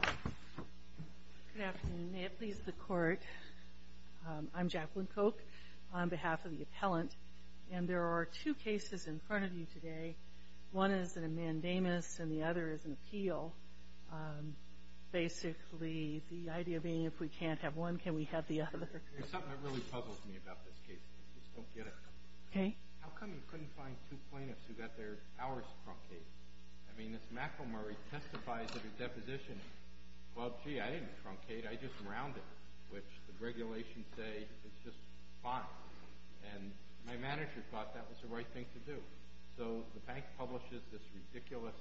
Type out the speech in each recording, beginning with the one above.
Good afternoon. May it please the court, I'm Jacqueline Koch on behalf of the appellant, and there are two cases in front of you today. One is a mandamus and the other is an appeal. Basically, the idea being if we can't have one, can we have the other? There's something that really puzzles me about this case. I just don't get it. Okay. How come you couldn't find two plaintiffs who got their hours from Kate? I mean, Ms. McElmurry testifies at her deposition, well, gee, I didn't truncate, I just rounded, which the regulations say is just fine. And my manager thought that was the right thing to do. So the bank publishes this ridiculous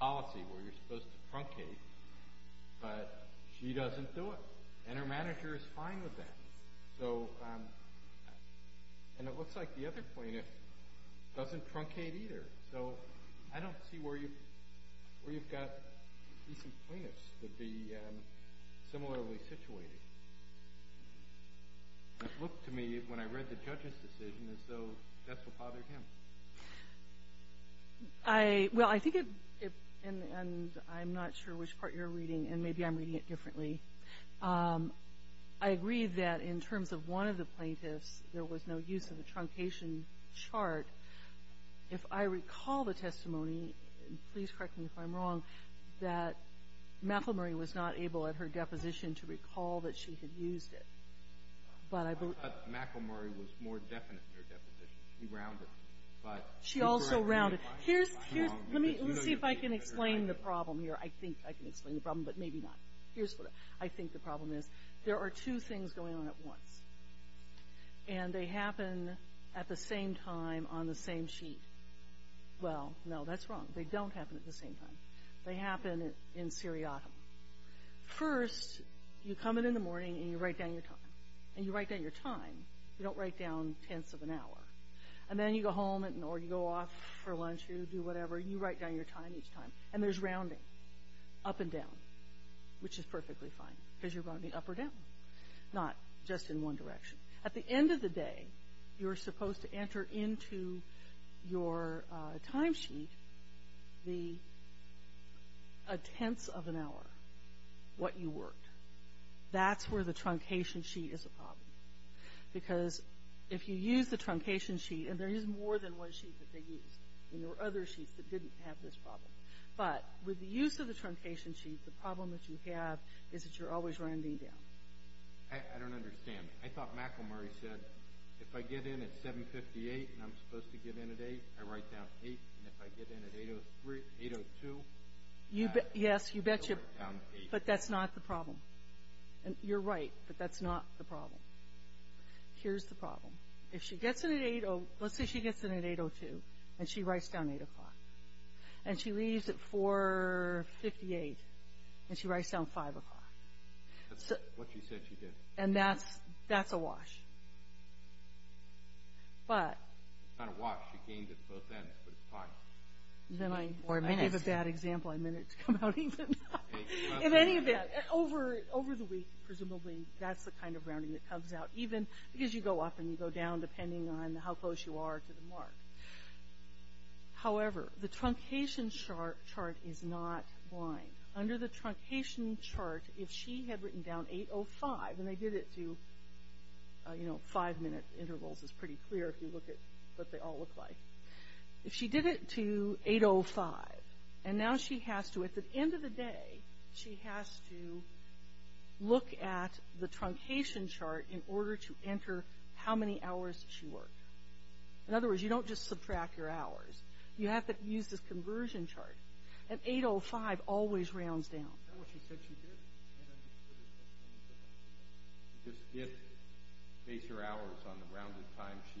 policy where you're supposed to truncate, but she doesn't do it, and her manager is fine with that. So, and it looks like the other plaintiff doesn't truncate either. So I don't see where you've got decent plaintiffs that would be similarly situated. It looked to me when I read the judge's decision as though that's what bothered him. I, well, I think it, and I'm not sure which part you're reading, and maybe I'm reading it differently. I agree that in terms of one of the plaintiffs, there was no use of the truncation chart. If I recall the testimony, and please correct me if I'm wrong, that McElmurry was not able at her deposition to recall that she had used it. But I believe- I thought McElmurry was more definite in her deposition. She rounded, but- She also rounded. Here's, here's, let me, let's see if I can explain the problem here. I think I can explain the problem, but maybe not. Here's what I think the problem is. There are two things going on at once. And they happen at the same time on the same sheet. Well, no, that's wrong. They don't happen at the same time. They happen in seriatim. First, you come in in the morning, and you write down your time. And you write down your time. You don't write down tenths of an hour. And then you go home, or you go off for lunch, or you do whatever. You write down your time each time. And there's rounding up and down, which is perfectly fine, because you're rounding up or down, not just in one direction. At the end of the day, you're supposed to enter into your timesheet the tenths of an hour, what you worked. That's where the truncation sheet is a problem. Because if you use the truncation sheet, and there is more than one sheet that they used. And there were other sheets that didn't have this problem. But with the use of the truncation sheet, the problem that you have is that you're always rounding down. I don't understand. I thought Macklemore said, if I get in at 7.58 and I'm supposed to get in at 8, I write down 8. And if I get in at 8.02, I write down 8. Yes, you betcha. But that's not the problem. You're right, but that's not the problem. Here's the problem. Let's say she gets in at 8.02, and she writes down 8 o'clock. And she leaves at 4.58, and she writes down 5 o'clock. That's what she said she did. And that's a wash. It's not a wash. She gained it at both ends, but it's fine. I gave a bad example. I meant it to come out even. In any event, over the week, presumably, that's the kind of rounding that comes out, because you go up and you go down depending on how close you are to the mark. However, the truncation chart is not blind. Under the truncation chart, if she had written down 8.05, and they did it to five-minute intervals is pretty clear if you look at what they all look like. If she did it to 8.05, and now she has to, at the end of the day, she has to look at the truncation chart in order to enter how many hours she worked. In other words, you don't just subtract your hours. You have to use this conversion chart. And 8.05 always rounds down. That's what she said she did. Just base your hours on the rounded time she had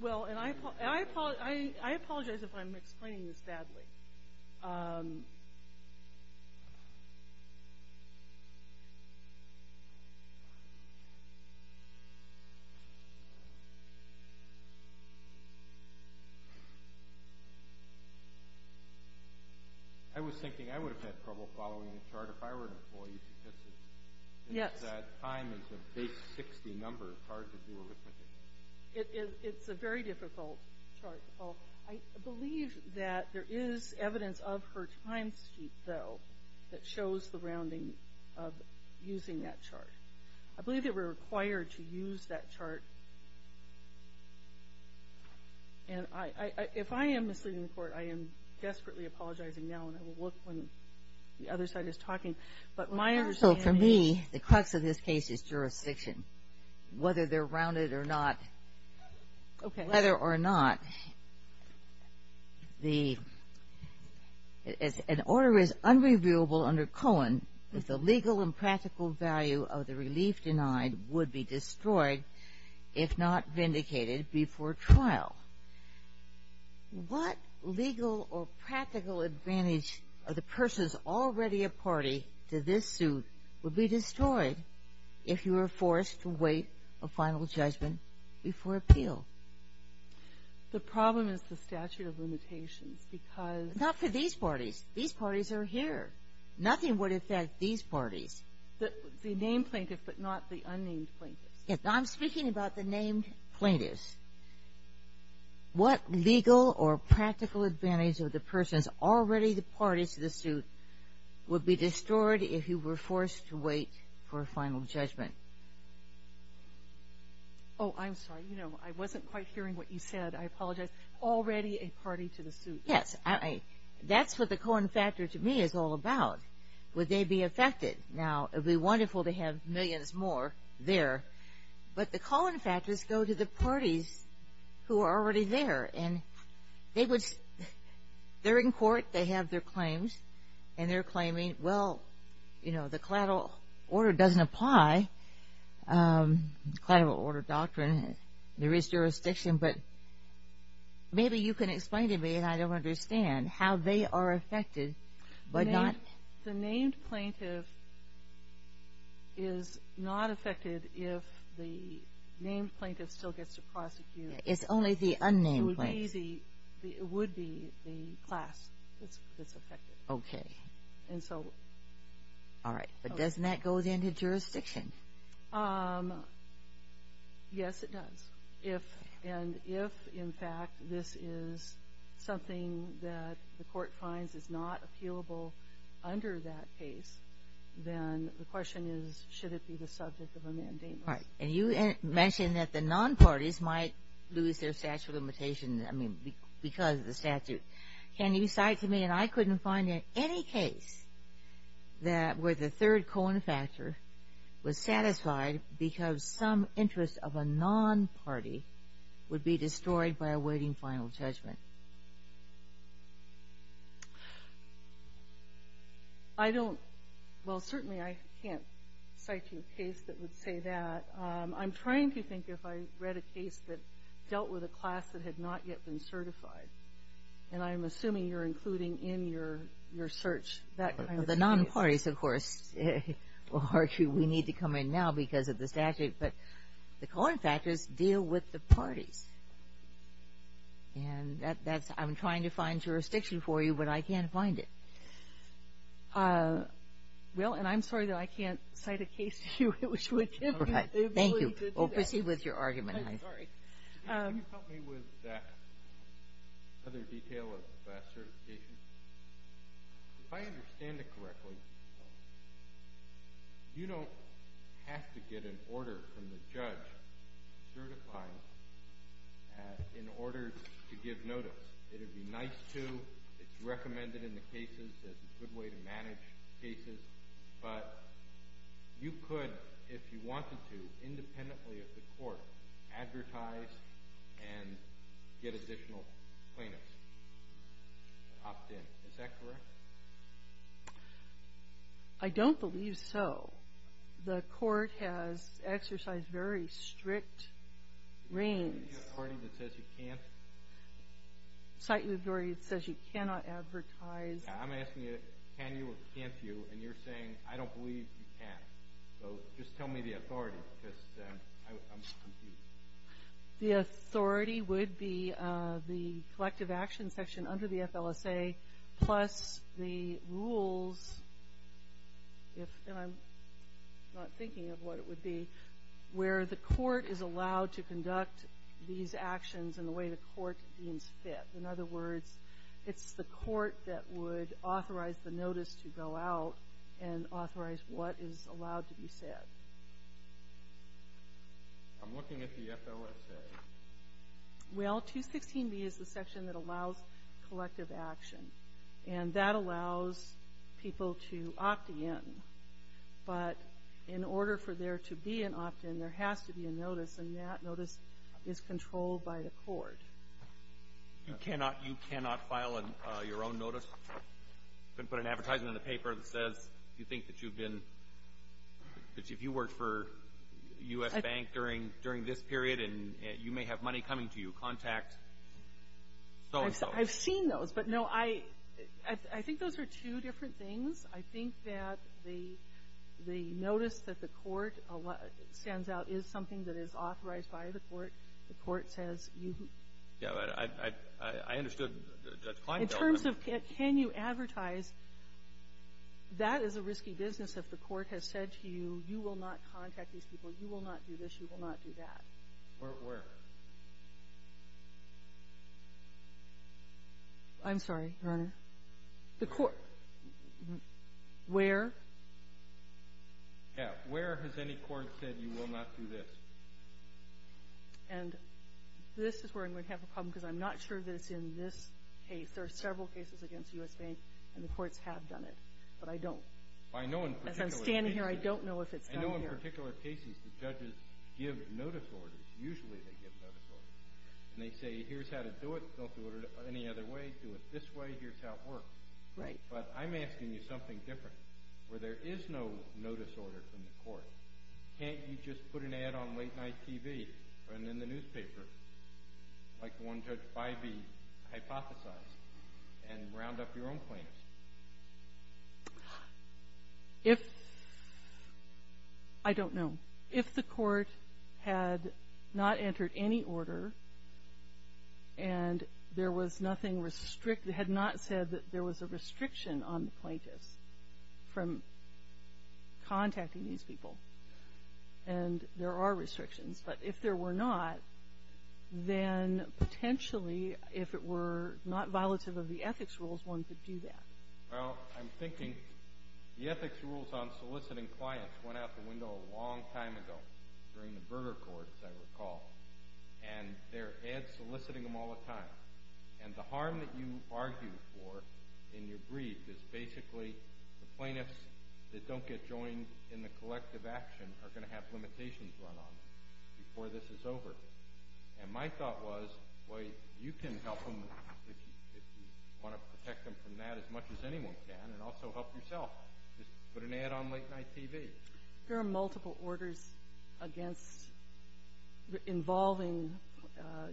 written down. I apologize if I'm explaining this badly. I was thinking I would have had trouble following the chart if I were an employee statistics. Yes. If that time is a base 60 number, it's hard to do arithmetic. It's a very difficult chart to follow. I believe that there is evidence of her timesheet, though, that shows the rounding of using that chart. I believe that we're required to use that chart. And if I am misleading the court, I am desperately apologizing now, and I will look when the other side is talking. But my understanding is the crux of this case is jurisdiction, whether they're rounded or not. Whether or not an order is unreviewable under Cohen if the legal and practical value of the relief denied would be destroyed if not vindicated before trial. What legal or practical advantage of the person's already a party to this suit would be destroyed if you were forced to wait a final judgment before appeal? The problem is the statute of limitations because — Not for these parties. These parties are here. Nothing would affect these parties. The named plaintiff, but not the unnamed plaintiff. I'm speaking about the named plaintiffs. What legal or practical advantage of the person's already a party to the suit would be destroyed if you were forced to wait for a final judgment? Oh, I'm sorry. You know, I wasn't quite hearing what you said. I apologize. Already a party to the suit. Yes. That's what the Cohen factor to me is all about. Would they be affected? Now, it would be wonderful to have millions more there, but the Cohen factors go to the parties who are already there. They're in court. They have their claims, and they're claiming, well, you know, the collateral order doesn't apply. Collateral order doctrine, there is jurisdiction, but maybe you can explain to me, and I don't understand, how they are affected, but not — The named plaintiff is not affected if the named plaintiff still gets to prosecute. It's only the unnamed plaintiff. It would be the class that's affected. Okay. And so — All right. But doesn't that go into jurisdiction? Yes, it does. And if, in fact, this is something that the court finds is not appealable under that case, then the question is, should it be the subject of a mandamus? All right. And you mentioned that the non-parties might lose their statute of limitations because of the statute. Can you cite to me, and I couldn't find any case where the third Cohen factor was satisfied because some interest of a non-party would be destroyed by awaiting final judgment? I don't — well, certainly I can't cite you a case that would say that. I'm trying to think if I read a case that dealt with a class that had not yet been certified, and I'm assuming you're including in your search that kind of case. The non-parties, of course, will argue we need to come in now because of the statute, but the Cohen factors deal with the parties. And that's — I'm trying to find jurisdiction for you, but I can't find it. Well, and I'm sorry that I can't cite a case to you which would give you the ability to do that. Thank you. Proceed with your argument. I'm sorry. Can you help me with that other detail of class certification? If I understand it correctly, you don't have to get an order from the judge certifying in order to give notice. It would be nice to. It's recommended in the cases as a good way to manage cases. But you could, if you wanted to, independently of the court, advertise and get additional plaintiffs to opt in. Is that correct? I don't believe so. The court has exercised very strict reigns. Do you have a court that says you can't? Citing authority that says you cannot advertise. I'm asking you, can you or can't you? And you're saying, I don't believe you can. So just tell me the authority because I'm confused. The authority would be the collective action section under the FLSA plus the rules, and I'm not thinking of what it would be, where the court is allowed to conduct these actions in the way the court deems fit. In other words, it's the court that would authorize the notice to go out and authorize what is allowed to be said. I'm looking at the FLSA. Well, 216B is the section that allows collective action, and that allows people to opt in. But in order for there to be an opt-in, there has to be a notice, and that notice is controlled by the court. You cannot file your own notice? You couldn't put an advertisement in the paper that says you think that you've been – that if you worked for a U.S. bank during this period, you may have money coming to you. Contact so-and-so. I've seen those, but no, I think those are two different things. I think that the notice that the court sends out is something that is authorized by the court. The court says you – Yeah, but I understood Judge Kleinfeld. In terms of can you advertise, that is a risky business if the court has said to you, you will not contact these people, you will not do this, you will not do that. Where? I'm sorry, Your Honor. The court – where? Yeah, where has any court said you will not do this? And this is where I'm going to have a problem because I'm not sure that it's in this case. There are several cases against U.S. banks, and the courts have done it, but I don't. I know in particular cases – As I'm standing here, I don't know if it's done here. I know in particular cases the judges give notice orders. Usually they give notice orders. And they say, here's how to do it. Don't do it any other way. Do it this way. Here's how it works. Right. But I'm asking you something different where there is no notice order from the court. Can't you just put an ad on late night TV or in the newspaper like the one Judge Bybee hypothesized and round up your own claims? If – I don't know. If the court had not entered any order and there was nothing – had not said that there was a restriction on the plaintiffs from contacting these people and there are restrictions, but if there were not, then potentially if it were not violative of the ethics rules, one could do that. Well, I'm thinking the ethics rules on soliciting clients went out the window a long time ago during the Berger courts, I recall. And they're soliciting them all the time. And the harm that you argue for in your brief is basically the plaintiffs that don't get joined in the collective action are going to have limitations run on them before this is over. And my thought was, well, you can help them if you want to protect them from that as much as anyone can and also help yourself. Just put an ad on late night TV. There are multiple orders against – involving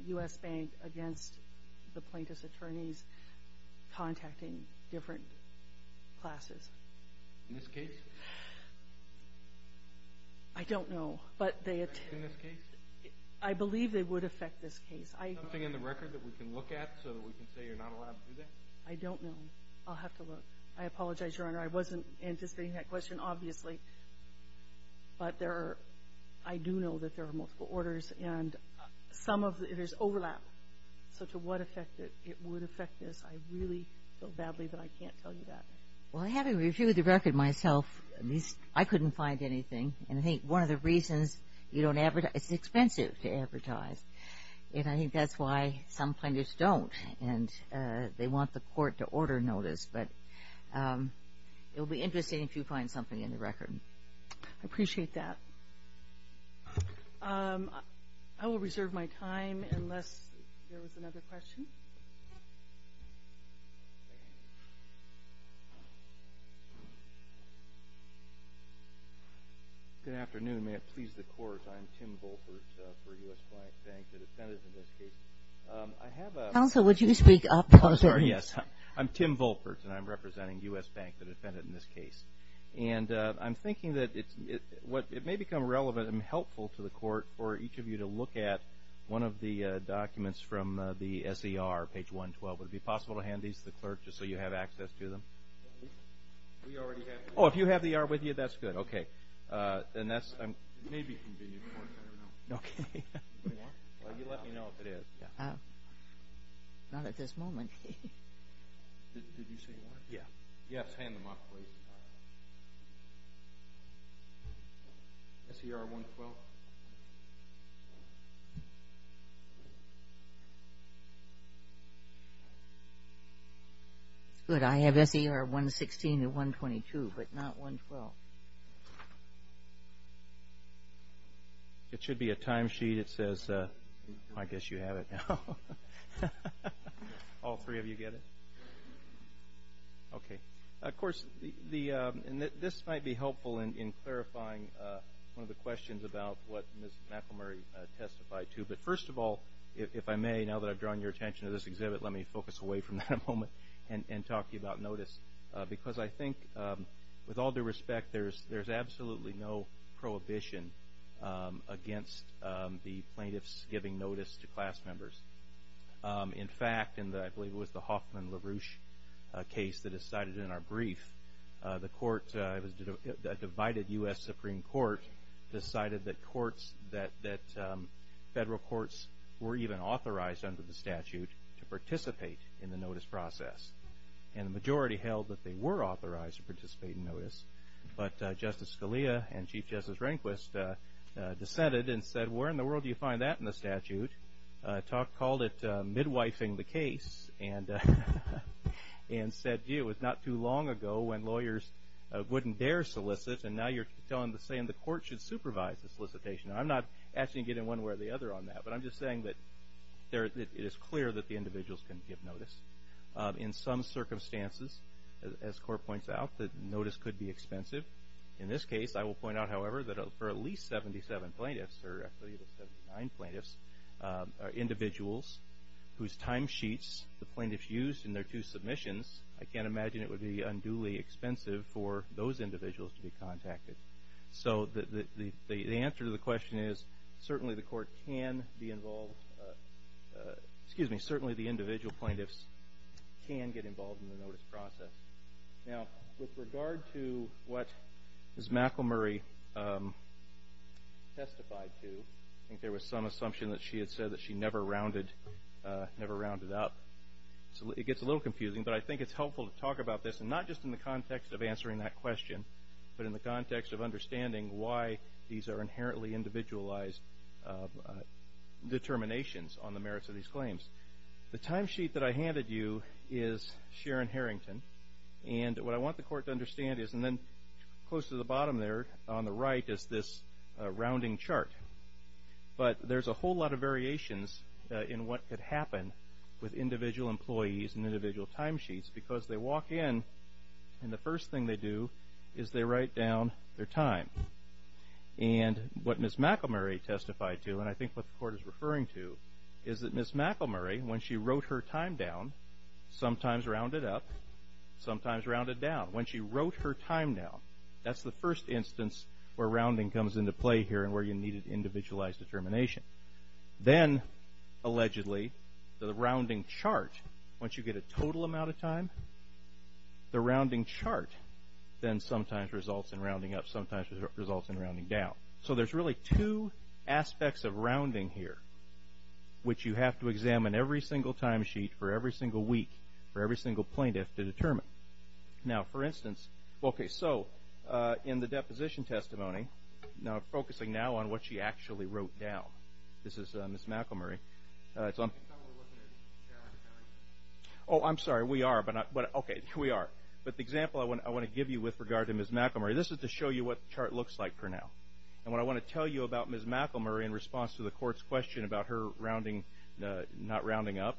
U.S. Bank against the plaintiffs' attorneys contacting different classes. In this case? I don't know. But they – In this case? I believe they would affect this case. Is there something in the record that we can look at so that we can say you're not allowed to do that? I don't know. I'll have to look. I apologize, Your Honor. I wasn't anticipating that question, obviously. But there are – I do know that there are multiple orders and some of – there's overlap. So to what effect it would affect this, I really feel badly that I can't tell you that. Well, having reviewed the record myself, at least I couldn't find anything. And I think one of the reasons you don't advertise – it's expensive to advertise. And I think that's why some plaintiffs don't. And they want the court to order notice. But it will be interesting if you find something in the record. I appreciate that. I will reserve my time unless there was another question. Good afternoon. May it please the Court. I am Tim Volpert for U.S. Bank, the defendant in this case. I have a – Counsel, would you speak up? I'm sorry, yes. I'm Tim Volpert, and I'm representing U.S. Bank, the defendant in this case. And I'm thinking that it may become relevant and helpful to the court for each of you to look at one of the documents from the S.E.R., page 112. Would it be possible to hand these to the clerk just so you have access to them? We already have them. Oh, if you have the R with you, that's good. Okay. And that's – It may be convenient for you. Okay. Do you want one? Well, you let me know if it is. Not at this moment. Did you say you wanted one? Yes. Yes, hand them off, please. S.E.R. 112. Good. I have S.E.R. 116 and 122, but not 112. It should be a timesheet. It says – I guess you have it now. All three of you get it? Okay. Of course, this might be helpful in clarifying one of the questions about what Ms. McElmurry testified to. But first of all, if I may, now that I've drawn your attention to this exhibit, let me focus away from that a moment and talk to you about notice. Because I think, with all due respect, there's absolutely no prohibition against the plaintiffs giving notice to class members. In fact, in the – I believe it was the Hoffman-LaRouche case that is cited in our brief, the court – a divided U.S. Supreme Court decided that courts – that federal courts were even authorized under the statute to participate in the notice process. And the majority held that they were authorized to participate in notice. But Justice Scalia and Chief Justice Rehnquist dissented and said, where in the world do you find that in the statute? Called it midwifing the case and said, gee, it was not too long ago when lawyers wouldn't dare solicit, and now you're saying the court should supervise the solicitation. I'm not actually getting one way or the other on that, but I'm just saying that it is clear that the individuals can give notice. In some circumstances, as the court points out, the notice could be expensive. In this case, I will point out, however, that for at least 77 plaintiffs – or I believe it was 79 plaintiffs – individuals whose timesheets the plaintiffs used in their two submissions, I can't imagine it would be unduly expensive for those individuals to be contacted. So the answer to the question is, certainly the court can be involved – excuse me, certainly the individual plaintiffs can get involved in the notice process. Now, with regard to what Ms. McElmurray testified to, I think there was some assumption that she had said that she never rounded up. It gets a little confusing, but I think it's helpful to talk about this, and not just in the context of answering that question, but in the context of understanding why these are inherently individualized determinations on the merits of these claims. The timesheet that I handed you is Sharon Harrington, and what I want the court to understand is – and then close to the bottom there on the right is this rounding chart. But there's a whole lot of variations in what could happen with individual employees and individual timesheets, because they walk in and the first thing they do is they write down their time. And what Ms. McElmurray testified to, and I think what the court is referring to, is that Ms. McElmurray, when she wrote her time down, sometimes rounded up, sometimes rounded down. When she wrote her time down, that's the first instance where rounding comes into play here and where you needed individualized determination. Then, allegedly, the rounding chart, once you get a total amount of time, the rounding chart then sometimes results in rounding up, sometimes results in rounding down. So there's really two aspects of rounding here, which you have to examine every single timesheet for every single week for every single plaintiff to determine. Now, for instance, okay, so in the deposition testimony, focusing now on what she actually wrote down. This is Ms. McElmurray. Oh, I'm sorry, we are, but okay, we are. But the example I want to give you with regard to Ms. McElmurray, this is to show you what the chart looks like for now. And what I want to tell you about Ms. McElmurray in response to the court's question about her rounding, not rounding up,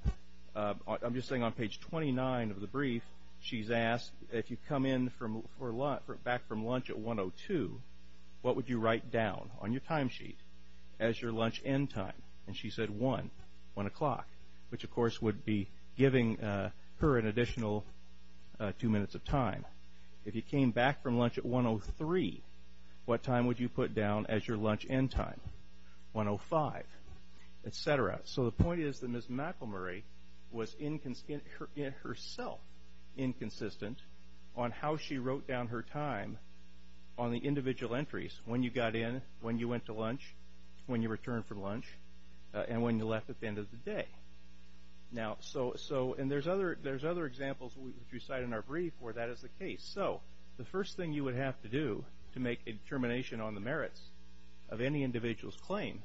I'm just saying on page 29 of the brief, she's asked if you come in back from lunch at 1.02, what would you write down on your timesheet as your lunch end time? And she said 1, 1 o'clock, which of course would be giving her an additional two minutes of time. If you came back from lunch at 1.03, what time would you put down as your lunch end time? 1.05, etc. So the point is that Ms. McElmurray was herself inconsistent on how she wrote down her time on the individual entries, when you got in, when you went to lunch, when you returned from lunch, and when you left at the end of the day. Now, so, and there's other examples which we cite in our brief where that is the case. So the first thing you would have to do to make a determination on the merits of any individual's claim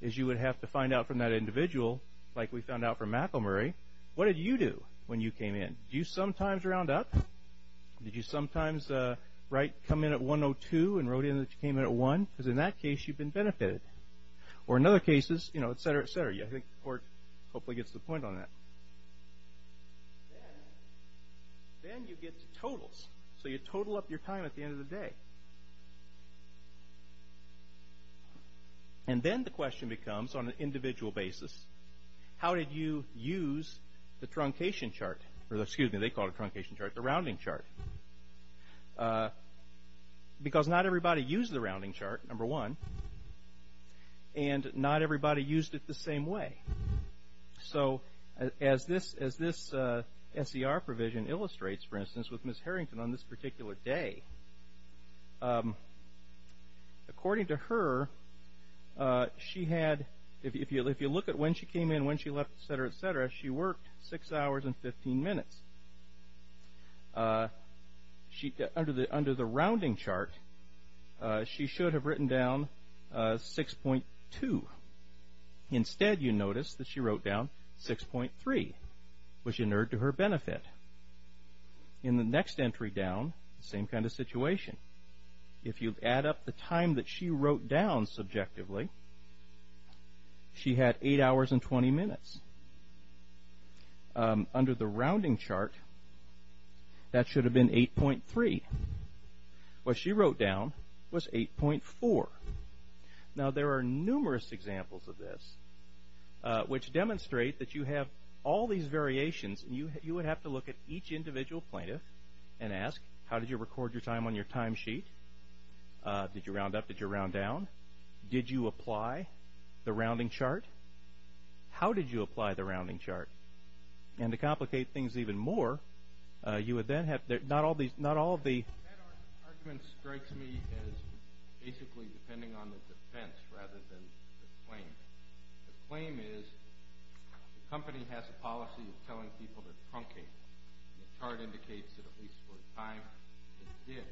is you would have to find out from that individual, like we found out from McElmurray, what did you do when you came in? Did you sometimes round up? Did you sometimes write, come in at 1.02 and wrote in that you came in at 1? Because in that case, you've been benefited. Or in other cases, you know, etc., etc. I think the court hopefully gets the point on that. Then, then you get totals. So you total up your time at the end of the day. And then the question becomes, on an individual basis, how did you use the truncation chart, or excuse me, they call it truncation chart, the rounding chart. Because not everybody used the rounding chart, number one, and not everybody used it the same way. So as this SER provision illustrates, for instance, with Ms. Harrington on this particular day, according to her, she had, if you look at when she came in, when she left, etc., etc., she worked six hours and 15 minutes. Under the rounding chart, she should have written down 6.2. Instead, you notice that she wrote down 6.3, which inured to her benefit. In the next entry down, same kind of situation. If you add up the time that she wrote down subjectively, she had eight hours and 20 minutes. Under the rounding chart, that should have been 8.3. What she wrote down was 8.4. Now, there are numerous examples of this, which demonstrate that you have all these variations, and you would have to look at each individual plaintiff and ask, how did you record your time on your time sheet? Did you round up? Did you round down? Did you apply the rounding chart? How did you apply the rounding chart? And to complicate things even more, you would then have, not all of the... ...depending on the defense rather than the claim. The claim is, the company has a policy of telling people to truncate. The chart indicates that at least for the time it did.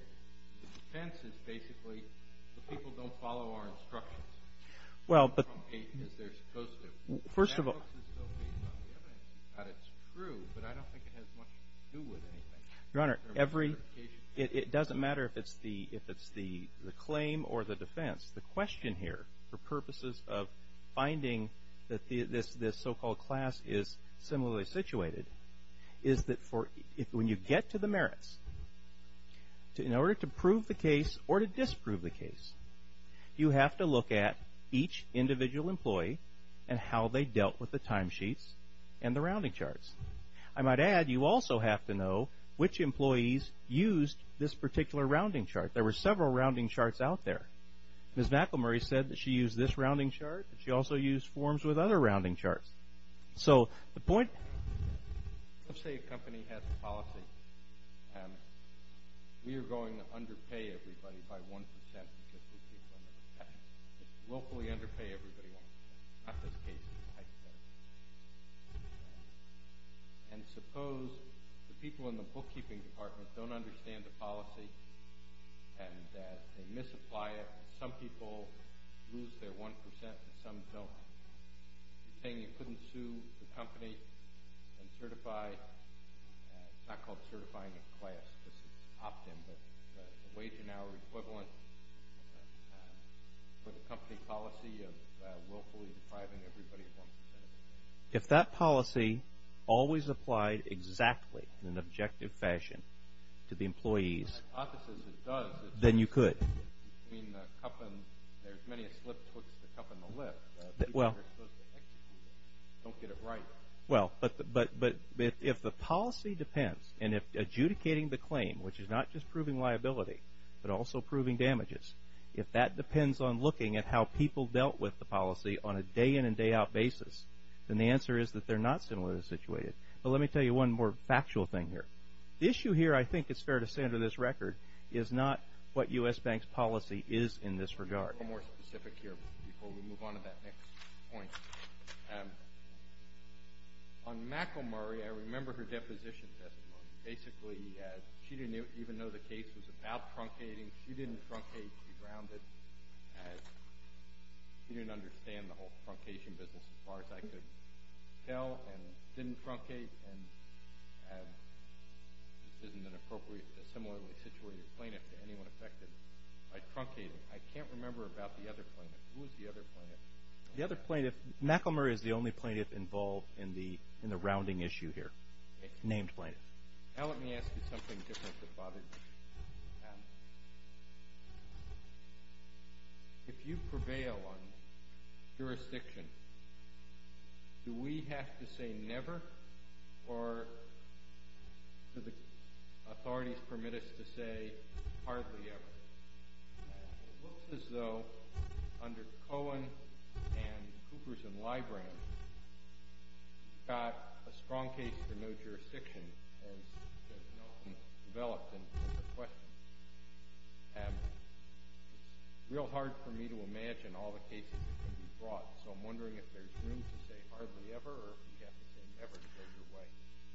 The defense is basically, the people don't follow our instructions. They truncate as they're supposed to. First of all... ...that it's true, but I don't think it has much to do with anything. Your Honor, it doesn't matter if it's the claim or the defense. The question here, for purposes of finding that this so-called class is similarly situated, is that when you get to the merits, in order to prove the case or to disprove the case, you have to look at each individual employee and how they dealt with the time sheets and the rounding charts. I might add, you also have to know which employees used this particular rounding chart. There were several rounding charts out there. Ms. McElmurray said that she used this rounding chart. She also used forms with other rounding charts. So, the point... Let's say a company has a policy. We are going to underpay everybody by 1% because we keep them in the past. Locally underpay everybody. Not this case. And suppose the people in the bookkeeping department don't understand the policy and they misapply it. Some people lose their 1% and some don't. You're saying you couldn't sue the company and certify... It's not called certifying a class. This is opt-in, but the wage and hour equivalent for the company policy of willfully depriving everybody of 1%. If that policy always applied exactly in an objective fashion to the employees, then you could. Between the cup and... There's many a slip puts the cup in the lip. People are supposed to execute it. Don't get it right. Well, but if the policy depends, and if adjudicating the claim, which is not just proving liability, but also proving damages, if that depends on looking at how people dealt with the policy on a day-in and day-out basis, then the answer is that they're not similarly situated. But let me tell you one more factual thing here. The issue here, I think it's fair to say under this record, is not what U.S. Bank's policy is in this regard. More specific here before we move on to that next point. On Mackle-Murray, I remember her deposition testimony. Basically, she didn't even know the case was about truncating. She didn't truncate. She grounded. She didn't understand the whole truncation business as far as I could tell, and didn't truncate. And this isn't an appropriately similarly situated plaintiff to anyone affected by truncating. I can't remember about the other plaintiff. Who was the other plaintiff? The other plaintiff, Mackle-Murray is the only plaintiff involved in the rounding issue here, named plaintiff. Now let me ask you something different that bothers me. If you prevail on jurisdiction, do we have to say never, or do the authorities permit us to say hardly ever? It looks as though, under Cohen and Coopers and Librand, you've got a strong case for no jurisdiction, as has often developed in the questions. And it's real hard for me to imagine all the cases that could be brought, so I'm wondering if there's room to say hardly ever, or if you have to say never to go your way.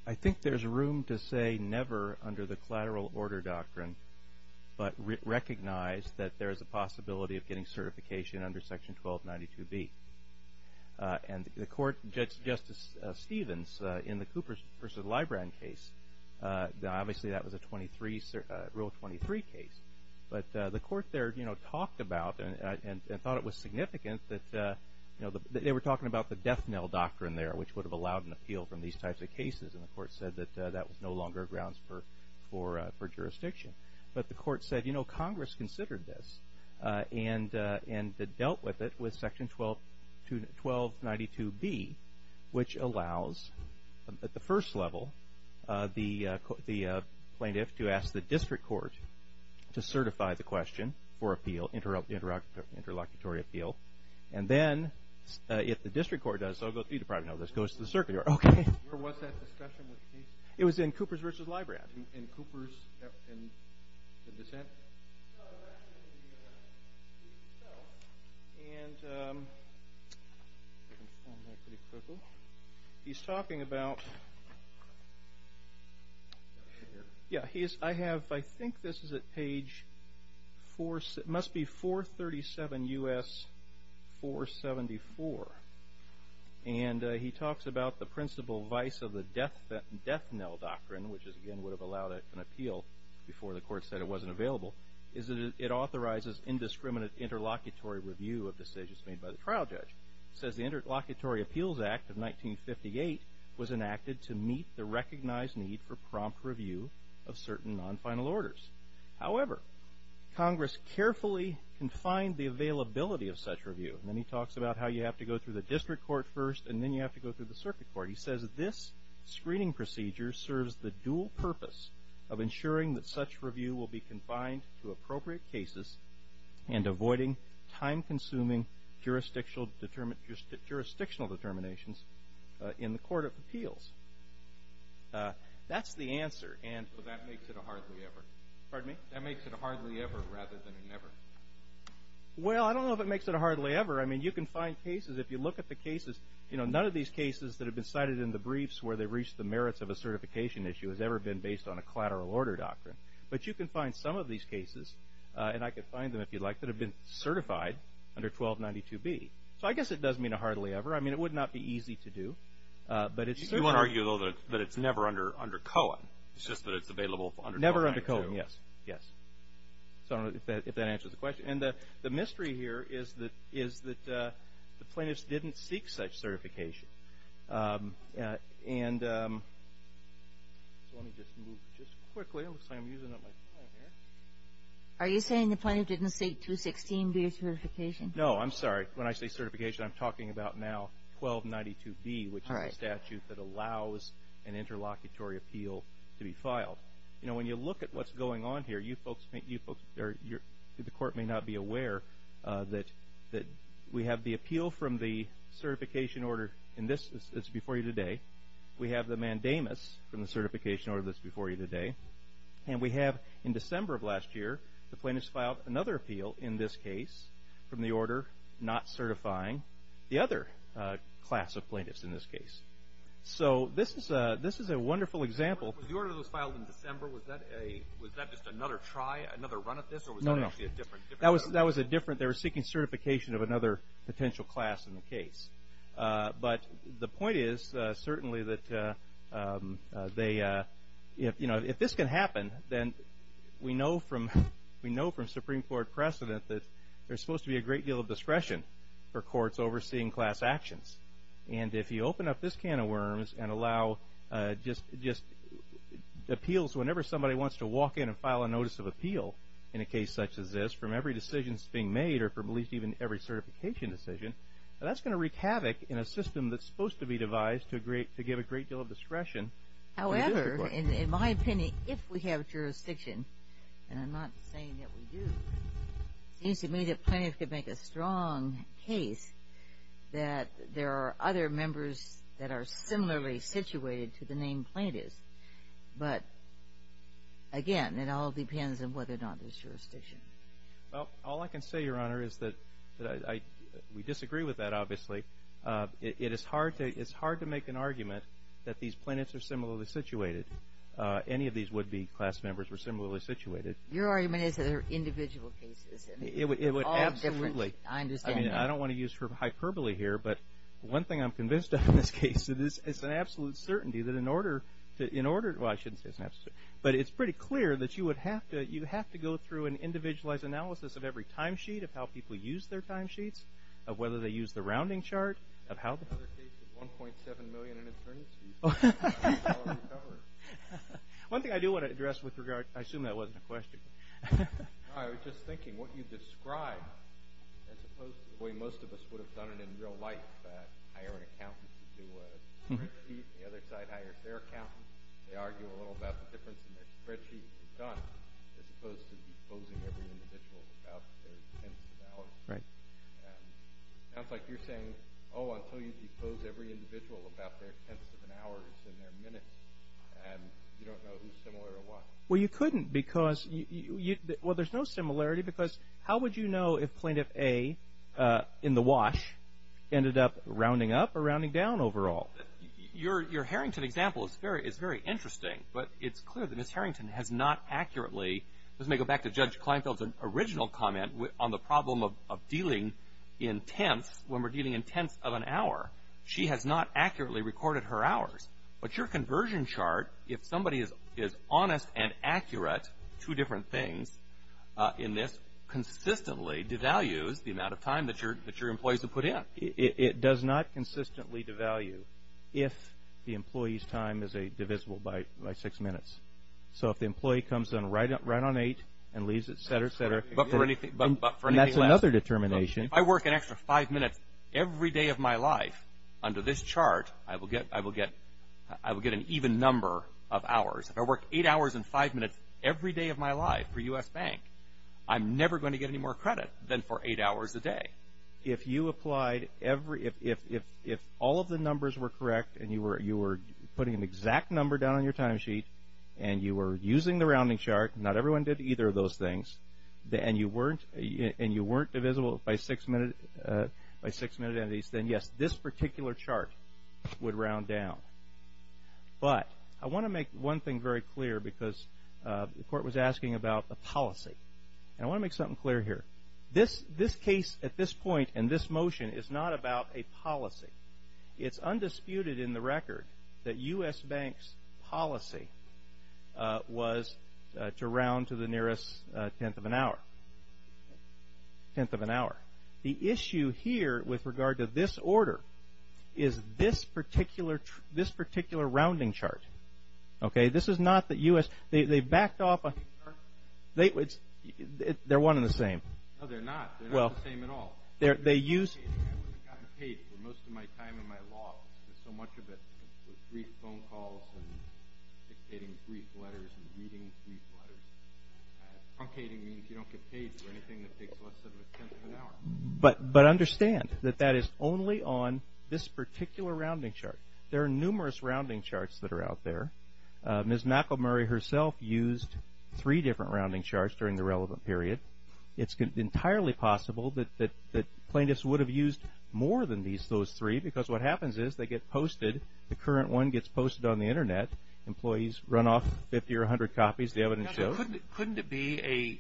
I think there's room to say never under the collateral order doctrine, but recognize that there is a possibility of getting certification under Section 1292B. And the court, Justice Stevens, in the Coopers v. Librand case, obviously that was a Rule 23 case, but the court there talked about and thought it was significant that they were talking about the death knell doctrine there, which would have allowed an appeal from these types of cases. And the court said that that was no longer grounds for jurisdiction. But the court said, you know, Congress considered this and dealt with it with Section 1292B, which allows, at the first level, the plaintiff to ask the district court to certify the question for appeal, interlocutory appeal, and then if the district court does, you probably know this, goes to the circuit court. Okay. Where was that discussion with the case? It was in Coopers v. Librand. In Coopers, in the dissent? No, it was actually in the U.S. case itself. And he's talking about, yeah, I have, I think this is at page four, it must be 437 U.S. 474, and he talks about the principle vice of the death knell doctrine, which again would have allowed an appeal before the court said it wasn't available, is that it authorizes indiscriminate interlocutory review of decisions made by the trial judge. It says the Interlocutory Appeals Act of 1958 was enacted to meet the recognized need for prompt review of certain non-final orders. However, Congress carefully confined the availability of such review, and then he talks about how you have to go through the district court first, and then you have to go through the circuit court. He says this screening procedure serves the dual purpose of ensuring that such review will be confined to appropriate cases and avoiding time-consuming jurisdictional determinations in the court of appeals. That's the answer, and so that makes it a hardly ever. Pardon me? That makes it a hardly ever rather than a never. Well, I don't know if it makes it a hardly ever. I mean, you can find cases, if you look at the cases, you know, none of these cases that have been cited in the briefs where they reach the merits of a certification issue has ever been based on a collateral order doctrine. But you can find some of these cases, and I could find them if you'd like, that have been certified under 1292B. So I guess it does mean a hardly ever. I mean, it would not be easy to do. You wouldn't argue, though, that it's never under Cohen. It's just that it's available under 1292. Never under Cohen, yes. Yes. So I don't know if that answers the question. And the mystery here is that the plaintiffs didn't seek such certification. So let me just move just quickly. It looks like I'm using up my time here. Are you saying the plaintiff didn't seek 216B certification? No, I'm sorry. When I say certification, I'm talking about now 1292B, which is the statute that allows an interlocutory appeal to be filed. You know, when you look at what's going on here, the court may not be aware that we have the appeal from the certification order, and this is before you today. We have the mandamus from the certification order that's before you today. And we have, in December of last year, the plaintiffs filed another appeal in this case from the order not certifying the other class of plaintiffs in this case. So this is a wonderful example. Was the order that was filed in December, was that just another try, another run at this? No, no. That was a different, they were seeking certification of another potential class in the case. But the point is certainly that they, you know, if this can happen, then we know from Supreme Court precedent that there's supposed to be a great deal of discretion for courts overseeing class actions. And if you open up this can of worms and allow just appeals whenever somebody wants to walk in and file a notice of appeal in a case such as this, from every decision that's being made, or from at least every certification decision, that's going to wreak havoc in a system that's supposed to be devised to give a great deal of discretion. However, in my opinion, if we have jurisdiction, and I'm not saying that we do, it seems to me that plaintiffs could make a strong case that there are other members that are similarly situated to the name plaintiffs. But, again, it all depends on whether or not there's jurisdiction. Well, all I can say, Your Honor, is that we disagree with that, obviously. It is hard to make an argument that these plaintiffs are similarly situated. Any of these would-be class members were similarly situated. Your argument is that there are individual cases. It would absolutely. I understand that. I mean, I don't want to use hyperbole here, but one thing I'm convinced of in this case is it's an absolute certainty that in order to – well, I shouldn't say it's an absolute – but it's pretty clear that you would have to – you have to go through an individualized analysis of every timesheet of how people use their timesheets, of whether they use the rounding chart, of how – Another case of 1.7 million in attorneys fees. One thing I do want to address with regard – I assume that wasn't a question. No, I was just thinking what you described, as opposed to the way most of us would have done it in real life, hire an accountant to do a spreadsheet, and the other side hires their accountant. They argue a little about the difference in their spreadsheet to be done, as opposed to exposing every individual about their intents and values. Right. It sounds like you're saying, oh, I'll tell you to expose every individual about their intents and values and their minutes, and you don't know who's similar or what. Well, you couldn't, because – well, there's no similarity, because how would you know if Plaintiff A, in the wash, ended up rounding up or rounding down overall? Your Harrington example is very interesting, but it's clear that Ms. Harrington has not accurately – when we're dealing in tenths of an hour, she has not accurately recorded her hours. But your conversion chart, if somebody is honest and accurate, two different things in this, consistently devalues the amount of time that your employees have put in. It does not consistently devalue if the employee's time is divisible by six minutes. So if the employee comes in right on eight and leaves, et cetera, et cetera – That's another determination. If I work an extra five minutes every day of my life under this chart, I will get an even number of hours. If I work eight hours and five minutes every day of my life for U.S. Bank, I'm never going to get any more credit than for eight hours a day. If you applied – if all of the numbers were correct and you were putting an exact number down on your timesheet and you were using the rounding chart, not everyone did either of those things, and you weren't divisible by six-minute entities, then yes, this particular chart would round down. But I want to make one thing very clear because the court was asking about a policy. And I want to make something clear here. This case at this point and this motion is not about a policy. It's undisputed in the record that U.S. Bank's policy was to round to the nearest tenth of an hour. Tenth of an hour. The issue here with regard to this order is this particular rounding chart. Okay? This is not that U.S. – they backed off – they're one and the same. No, they're not. They're not the same at all. I haven't gotten paid for most of my time in my law office. There's so much of it with brief phone calls and dictating brief letters and reading brief letters. Truncating means you don't get paid for anything that takes less than a tenth of an hour. But understand that that is only on this particular rounding chart. There are numerous rounding charts that are out there. Ms. McElmurry herself used three different rounding charts during the relevant period. It's entirely possible that plaintiffs would have used more than those three because what happens is they get posted. The current one gets posted on the Internet. Employees run off 50 or 100 copies. The evidence shows. Couldn't it be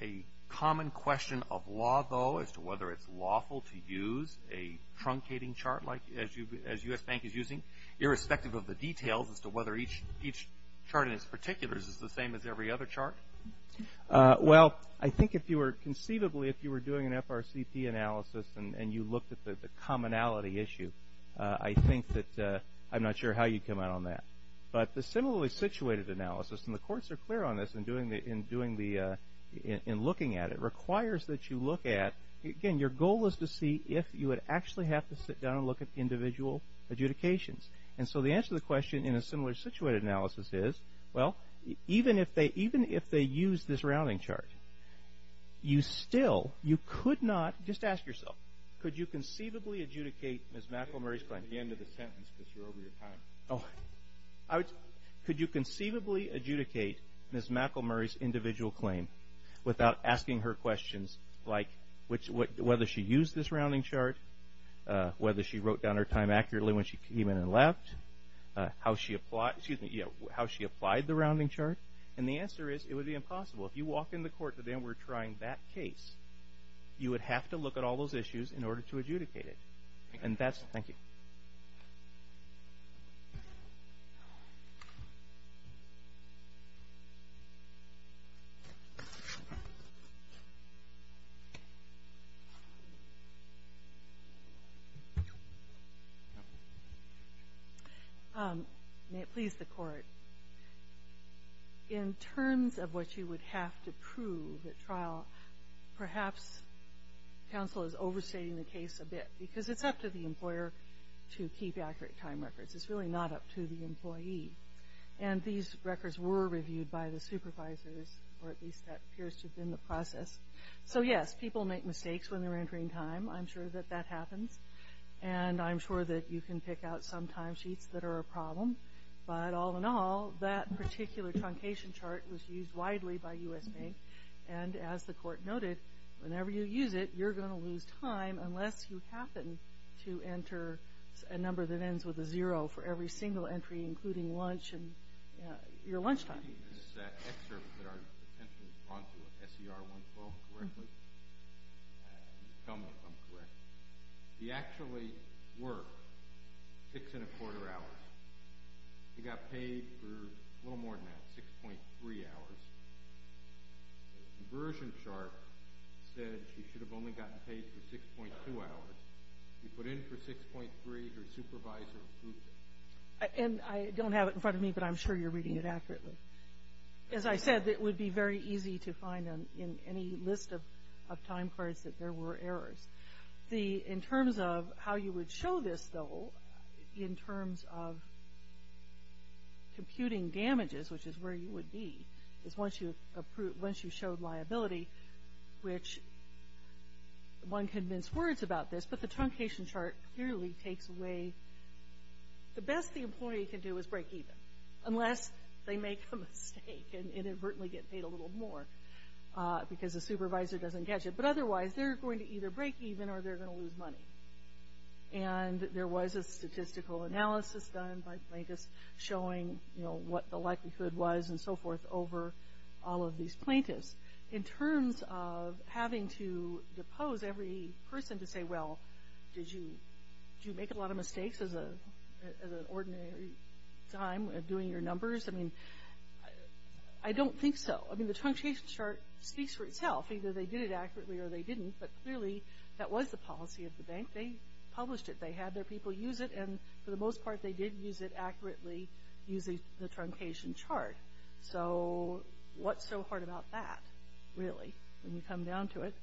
a common question of law, though, as to whether it's lawful to use a truncating chart as U.S. Bank is using, irrespective of the details as to whether each chart in its particulars is the same as every other chart? Well, I think if you were conceivably if you were doing an FRCP analysis and you looked at the commonality issue, I think that I'm not sure how you'd come out on that. But the similarly situated analysis, and the courts are clear on this in looking at it, requires that you look at, again, your goal is to see if you would actually have to sit down and look at individual adjudications. And so the answer to the question in a similar situated analysis is, well, even if they even if they use this rounding chart, you still you could not just ask yourself, could you conceivably adjudicate Ms. McElmurry's claim? At the end of the sentence, because you're over your time. Could you conceivably adjudicate Ms. McElmurry's individual claim without asking her questions like, whether she used this rounding chart, whether she wrote down her time accurately when she came in and left, how she applied the rounding chart? And the answer is, it would be impossible. If you walk in the court today and were trying that case, you would have to look at all those issues in order to adjudicate it. And that's it. Thank you. May it please the Court, in terms of what you would have to prove at trial, perhaps counsel is overstating the case a bit, because it's up to the employer to keep accurate time records. It's really not up to the employee. And these records were reviewed by the supervisors, or at least that appears to have been the process. So yes, people make mistakes when they're entering time. I'm sure that that happens. And I'm sure that you can pick out some timesheets that are a problem. But all in all, that particular truncation chart was used widely by U.S. Bank. And as the Court noted, whenever you use it, you're going to lose time unless you happen to enter a number that ends with a zero for every single entry, including lunch and your lunch time. This is an excerpt that our attention was drawn to of S.E.R. 112, if I'm correct. He actually worked six and a quarter hours. He got paid for a little more than that, 6.3 hours. The conversion chart said he should have only gotten paid for 6.2 hours. He put in for 6.3. Her supervisor approved it. And I don't have it in front of me, but I'm sure you're reading it accurately. As I said, it would be very easy to find in any list of time cards that there were errors. In terms of how you would show this, though, in terms of computing damages, which is where you would be, is once you showed liability, which one convinced words about this, but the truncation chart clearly takes away the best the employee can do is break even, unless they make a mistake and inadvertently get paid a little more because the supervisor doesn't catch it. But otherwise, they're going to either break even or they're going to lose money. And there was a statistical analysis done by plaintiffs showing what the likelihood was and so forth over all of these plaintiffs. In terms of having to depose every person to say, well, did you make a lot of mistakes as an ordinary time of doing your numbers? I mean, I don't think so. I mean, the truncation chart speaks for itself. Either they did it accurately or they didn't, but clearly that was the policy of the bank. They published it. They had their people use it. And for the most part, they did use it accurately using the truncation chart. So what's so hard about that, really, when you come down to it?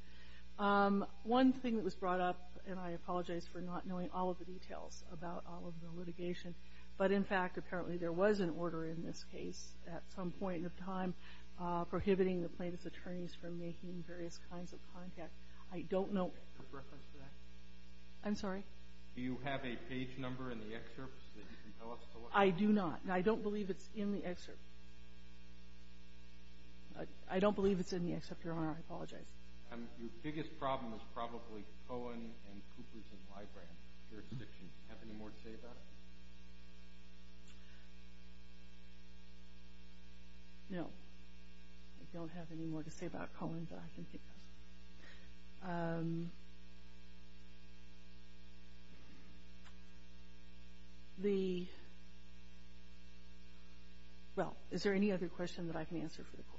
One thing that was brought up, and I apologize for not knowing all of the details about all of the litigation, but in fact, apparently there was an order in this case at some point in time prohibiting the plaintiff's attorneys from making various kinds of contact. I don't know. I'm sorry? Do you have a page number in the excerpt so that you can tell us? I do not. I don't believe it's in the excerpt. I don't believe it's in the excerpt, Your Honor. I apologize. Your biggest problem is probably Cohen and Coopers and Libram jurisdictions. Do you have any more to say about it? No. I don't have any more to say about Cohen, but I can think of something. Well, is there any other question that I can answer for the Court? Thank you.